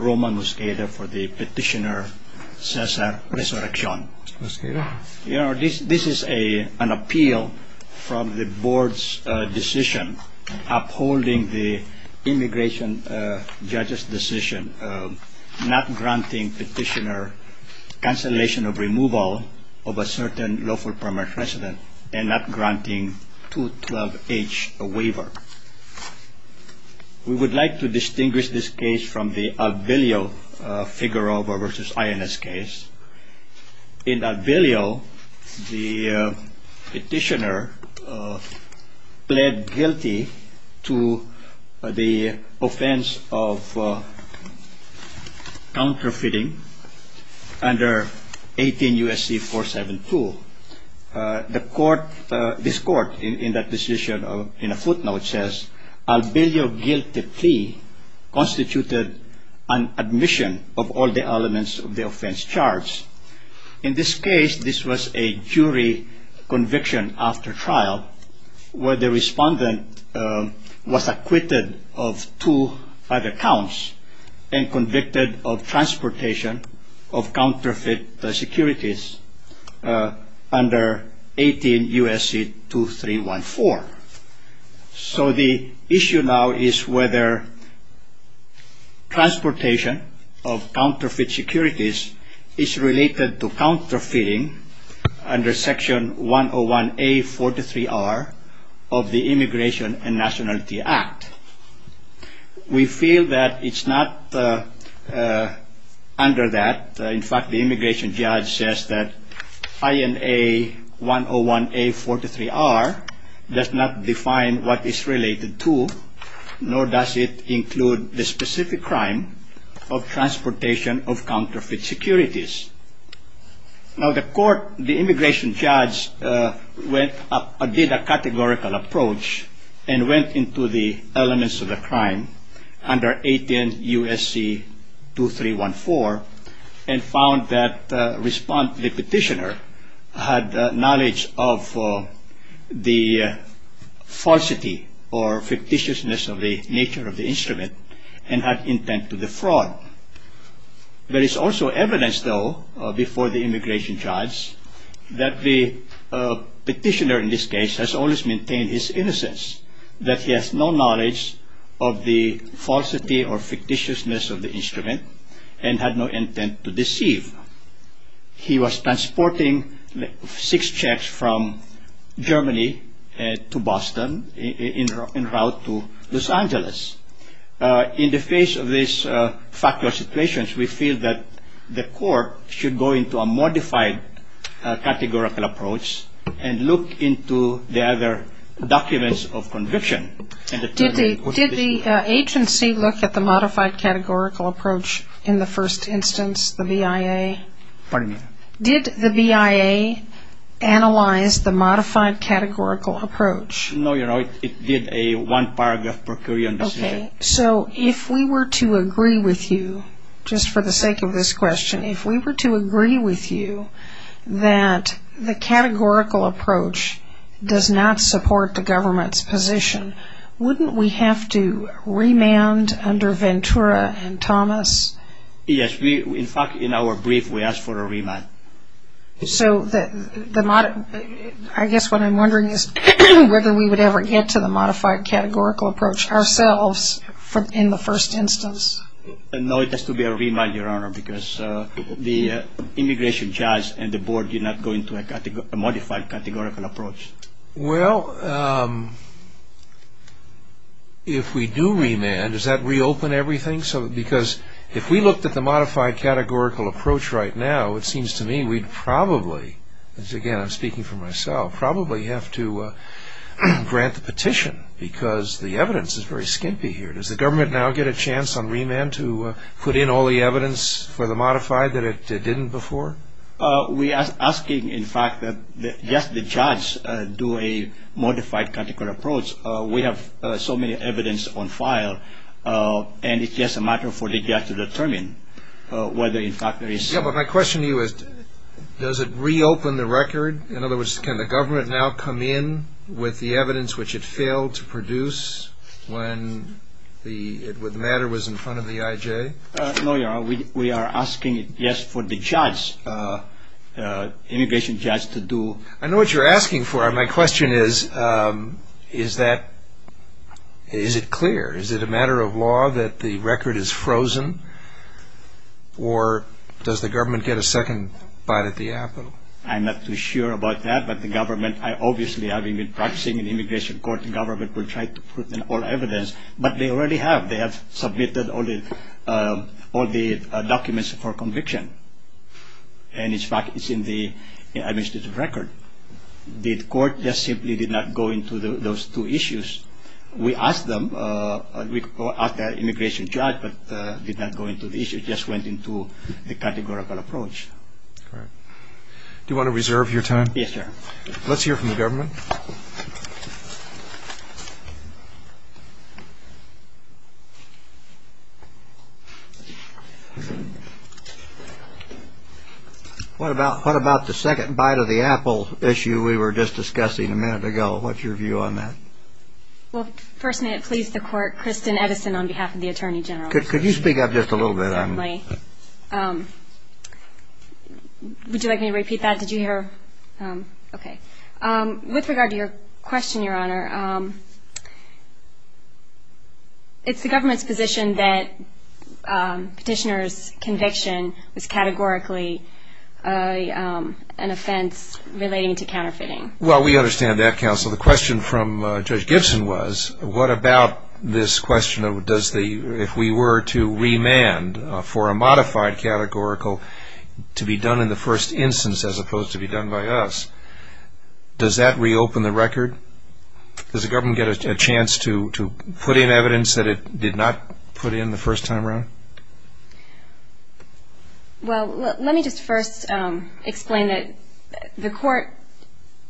Roman Muscata for the Petitioner Cesar Resurrecion. This is an appeal from the Board's decision upholding the immigration judge's decision not granting Petitioner cancellation of removal of a certain lawful permanent resident and not granting 212H a waiver. We would like to distinguish this case from the Alvilio Figueroa v. INS case. In Alvilio, the Petitioner pled guilty to the offense of counterfeiting under 18 U.S.C. 472. This court in that decision in a footnote says Alvilio guilty plea constituted an admission of all the elements of the offense charge. In this case, this was a jury conviction after trial where the respondent was acquitted of two other counts and convicted of transportation of counterfeit securities under 18 U.S.C. 2314. So the issue now is whether transportation of counterfeit securities is related to counterfeiting under section 101A43R of the Immigration and Nationality Act. We feel that it's not under that. In fact, the immigration judge says that INA 101A43R does not define what is related to nor does it include the specific crime of transportation of counterfeit securities. Now the immigration judge did a categorical approach and went into the and had intent to defraud. There is also evidence, though, before the immigration judge that the petitioner in this case has always maintained his innocence, that he has no knowledge of the falsity or fictitiousness of the instrument and had no intent to deceive. He was transporting six checks from Germany to Boston en route to Los Angeles. In the face of these factual situations, we feel that the court should go into a modified categorical approach and look into the other documents of conviction. Did the agency look at the modified categorical approach in the first instance, the BIA? Did the BIA analyze the modified categorical approach? No, Your Honor. It did a one paragraph per current decision. Okay. So if we were to agree with you, just for the sake of this question, if we were to agree with you that the categorical approach does not support the government's position, wouldn't we have to remand under Ventura and Thomas? Yes. In fact, in our brief, we asked for a remand. So I guess what I'm wondering is whether we would ever get to the modified categorical approach ourselves in the first instance. No, it has to be a remand, Your Honor, because the immigration judge and the board do not go into a modified categorical approach. Well, if we do remand, does that reopen everything? Because if we looked at the modified categorical approach right now, it seems to me we'd probably, again, I'm speaking for myself, probably have to grant the petition because the evidence is very skimpy here. Does the government now get a chance on remand to put in all the evidence for the modified that it didn't before? We are asking, in fact, that just the judge do a modified categorical approach. We have so many evidence on file, and it's just a matter for the judge to determine whether, in fact, there is. Yeah, but my question to you is, does it reopen the record? In other words, can the government now come in with the evidence which it failed to produce when the matter was in front of the I.J.? No, Your Honor, we are asking, yes, for the judge, immigration judge, to do. I know what you're asking for. My question is, is it clear? Is it a matter of law that the record is frozen, or does the government get a second bite at the apple? I'm not too sure about that, but the government, obviously, having been practicing in immigration court, the government will try to put in all evidence, but they already have. They have submitted all the documents for conviction, and, in fact, it's in the administrative record. The court just simply did not go into those two issues. We asked them, we asked the immigration judge, but did not go into the issue. It just went into the categorical approach. All right. Do you want to reserve your time? Yes, Your Honor. Let's hear from the government. What about the second bite of the apple issue we were just discussing a minute ago? What's your view on that? Well, first may it please the court, Kristen Edison on behalf of the Attorney General. Could you speak up just a little bit? Certainly. Would you like me to repeat that? Did you hear? Okay. With regard to your question, Your Honor, it's the government's position that petitioner's conviction is categorically an offense relating to counterfeiting. Well, we understand that, counsel. The question from Judge Gibson was, what about this question of does the, if we were to remand for a modified categorical to be done in the first instance as opposed to be done by us, does that reopen the record? Does the government get a chance to put in evidence that it did not put in the first time around? Well, let me just first explain that the court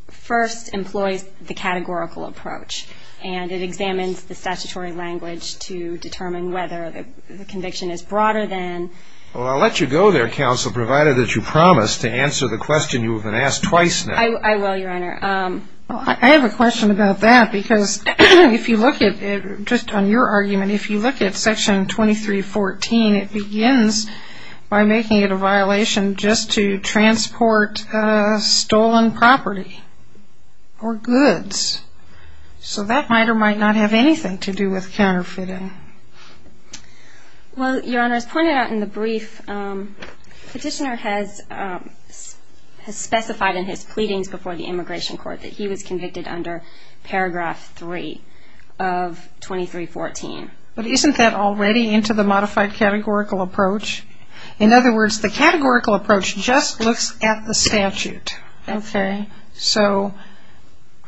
first employs the categorical approach and it examines the statutory language to determine whether the conviction is broader than Well, I'll let you go there, counsel, provided that you promise to answer the question you've been asked twice now. I will, Your Honor. I have a question about that because if you look at it, just on your argument, if you look at Section 2314, it begins by making it a violation just to transport stolen property or goods. So that might or might not have anything to do with counterfeiting. Well, Your Honor, as pointed out in the brief, Petitioner has specified in his pleadings before the Immigration Court that he was convicted under Paragraph 3 of 2314. But isn't that already into the modified categorical approach? In other words, the categorical approach just looks at the statute. Okay. So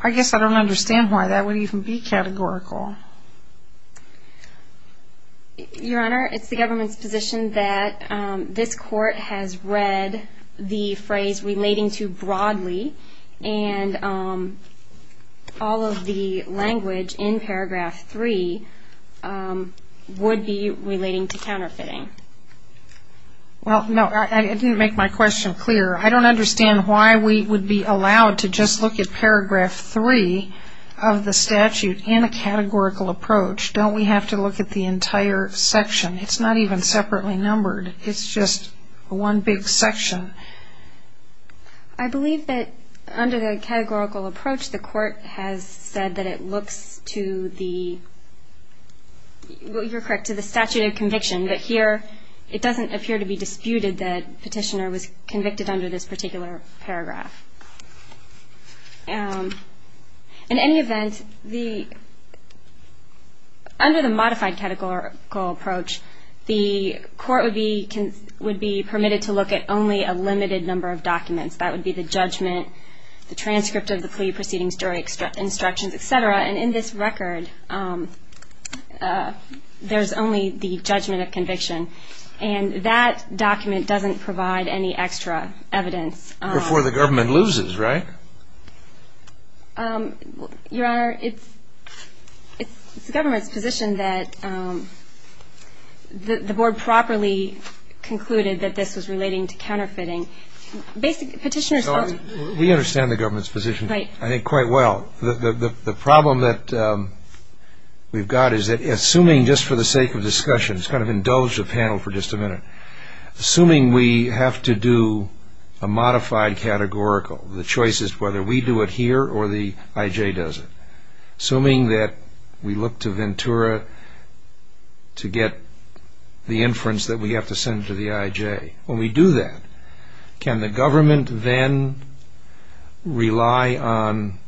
I guess I don't understand why that would even be categorical. Your Honor, it's the government's position that this court has read the phrase relating to broadly and all of the language in Paragraph 3 would be relating to counterfeiting. Well, no, I didn't make my question clear. I don't understand why we would be allowed to just look at Paragraph 3 of the statute in a categorical approach. Don't we have to look at the entire section? It's not even separately numbered. It's just one big section. I believe that under the categorical approach, the court has said that it looks to the statute of conviction. But here, it doesn't appear to be disputed that Petitioner was convicted under this particular paragraph. In any event, under the modified categorical approach, the court would be permitted to look at only a limited number of documents. That would be the judgment, the transcript of the plea proceedings, jury instructions, et cetera. And in this record, there's only the judgment of conviction. And that document doesn't provide any extra evidence. Before the government loses, right? Your Honor, it's the government's position that the board properly concluded that this was relating to counterfeiting. We understand the government's position, I think, quite well. The problem that we've got is that assuming, just for the sake of discussion, let's indulge the panel for just a minute. Assuming we have to do a modified categorical, the choice is whether we do it here or the I.J. does it. Assuming that we look to Ventura to get the inference that we have to send to the I.J. when we do that, can the government then rely on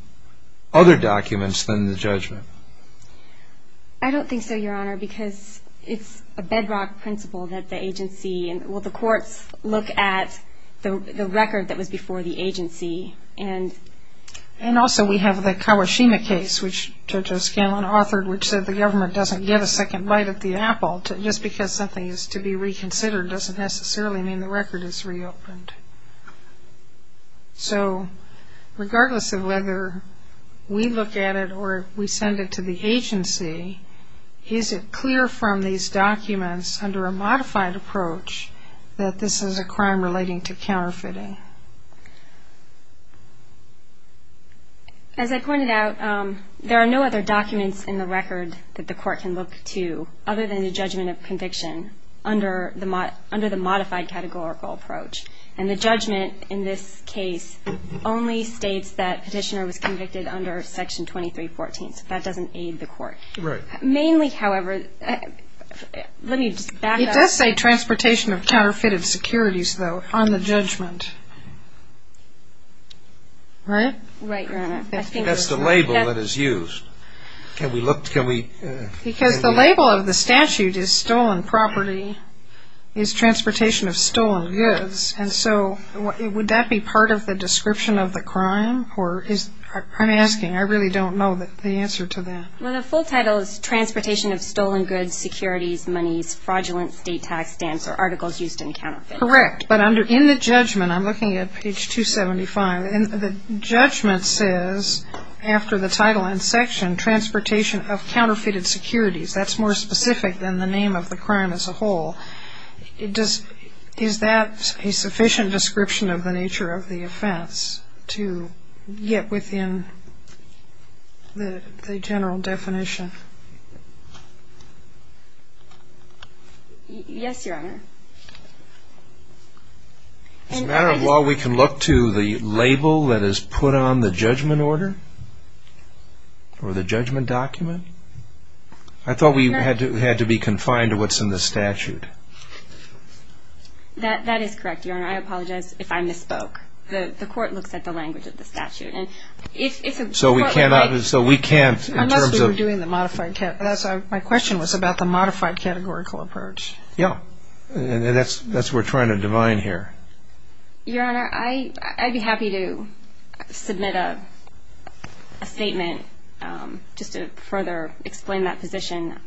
other documents than the judgment? I don't think so, Your Honor, because it's a bedrock principle that the agency and will the courts look at the record that was before the agency and And also we have the Kawashima case, which JoJo Scanlon authored, which said the government doesn't give a second bite at the apple. Just because something is to be reconsidered doesn't necessarily mean the record is reopened. So regardless of whether we look at it or we send it to the agency, is it clear from these documents under a modified approach that this is a crime relating to counterfeiting? As I pointed out, there are no other documents in the record that the court can look to other than the judgment of conviction under the modified categorical approach. And the judgment in this case only states that Petitioner was convicted under Section 2314. So that doesn't aid the court. Right. Mainly, however, let me just back up. It does say transportation of counterfeited securities, though, on the judgment. Right? Right, Your Honor. That's the label that is used. Can we look, can we Because the label of the statute is stolen property, is transportation of stolen goods, and so would that be part of the description of the crime? I'm asking. I really don't know the answer to that. Well, the full title is transportation of stolen goods, securities, monies, fraudulence, state tax stamps, or articles used in counterfeiting. Correct. But in the judgment, I'm looking at page 275, The judgment says, after the title and section, transportation of counterfeited securities. That's more specific than the name of the crime as a whole. Is that a sufficient description of the nature of the offense to get within the general definition? Yes, Your Honor. As a matter of law, we can look to the label that is put on the judgment order? Or the judgment document? I thought we had to be confined to what's in the statute. That is correct, Your Honor. I apologize if I misspoke. The court looks at the language of the statute. So we can't, in terms of Unless we were doing the modified, my question was about the modified categorical approach. Yeah. And that's what we're trying to divine here. Your Honor, I'd be happy to submit a statement just to further explain that position.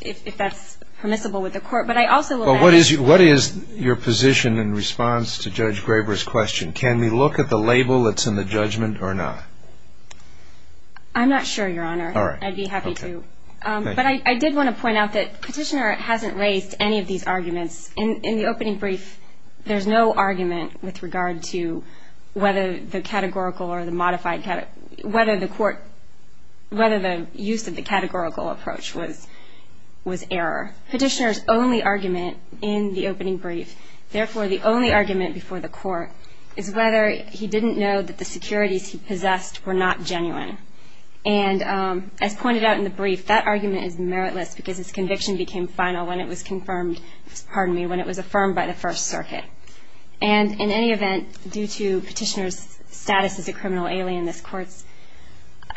If that's permissible with the court. But I also will ask What is your position in response to Judge Graber's question? Can we look at the label that's in the judgment or not? I'm not sure, Your Honor. All right. I'd be happy to. But I did want to point out that Petitioner hasn't raised any of these arguments. In the opening brief, there's no argument with regard to whether the categorical or the modified whether the court, whether the use of the categorical approach was error. Petitioner's only argument in the opening brief, therefore the only argument before the court, is whether he didn't know that the securities he possessed were not genuine. And as pointed out in the brief, that argument is meritless because his conviction became final when it was confirmed, pardon me, when it was affirmed by the First Circuit. And in any event, due to Petitioner's status as a criminal alien, this court's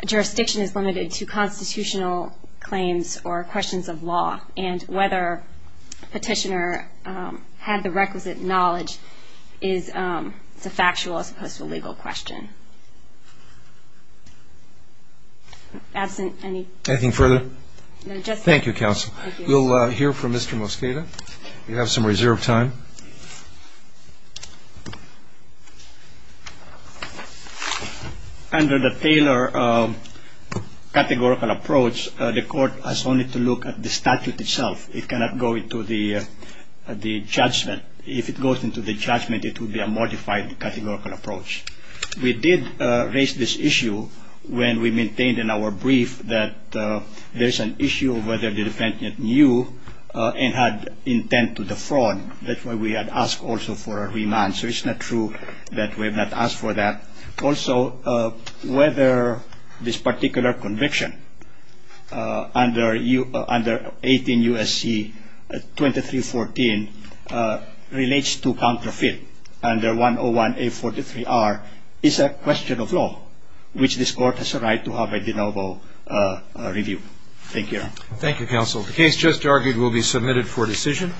jurisdiction is limited to constitutional claims or questions of law. And whether Petitioner had the requisite knowledge is a factual as opposed to a legal question. Anything further? No, just that. Thank you, Counsel. We'll hear from Mr. Mosqueda. We have some reserved time. Under the Taylor categorical approach, the court has only to look at the statute itself. It cannot go into the judgment. If it goes into the judgment, it would be a modified categorical approach. We did raise this issue when we maintained in our brief that there's an issue of whether the defendant knew and had intent to defraud, that's why we had asked also for a remand. So it's not true that we have not asked for that. Also, whether this particular conviction under 18 U.S.C. 2314 relates to counterfeit under 101A43R is a question of law, which this court has a right to have a de novo review. Thank you. Thank you, Counsel. The case just argued will be submitted for decision.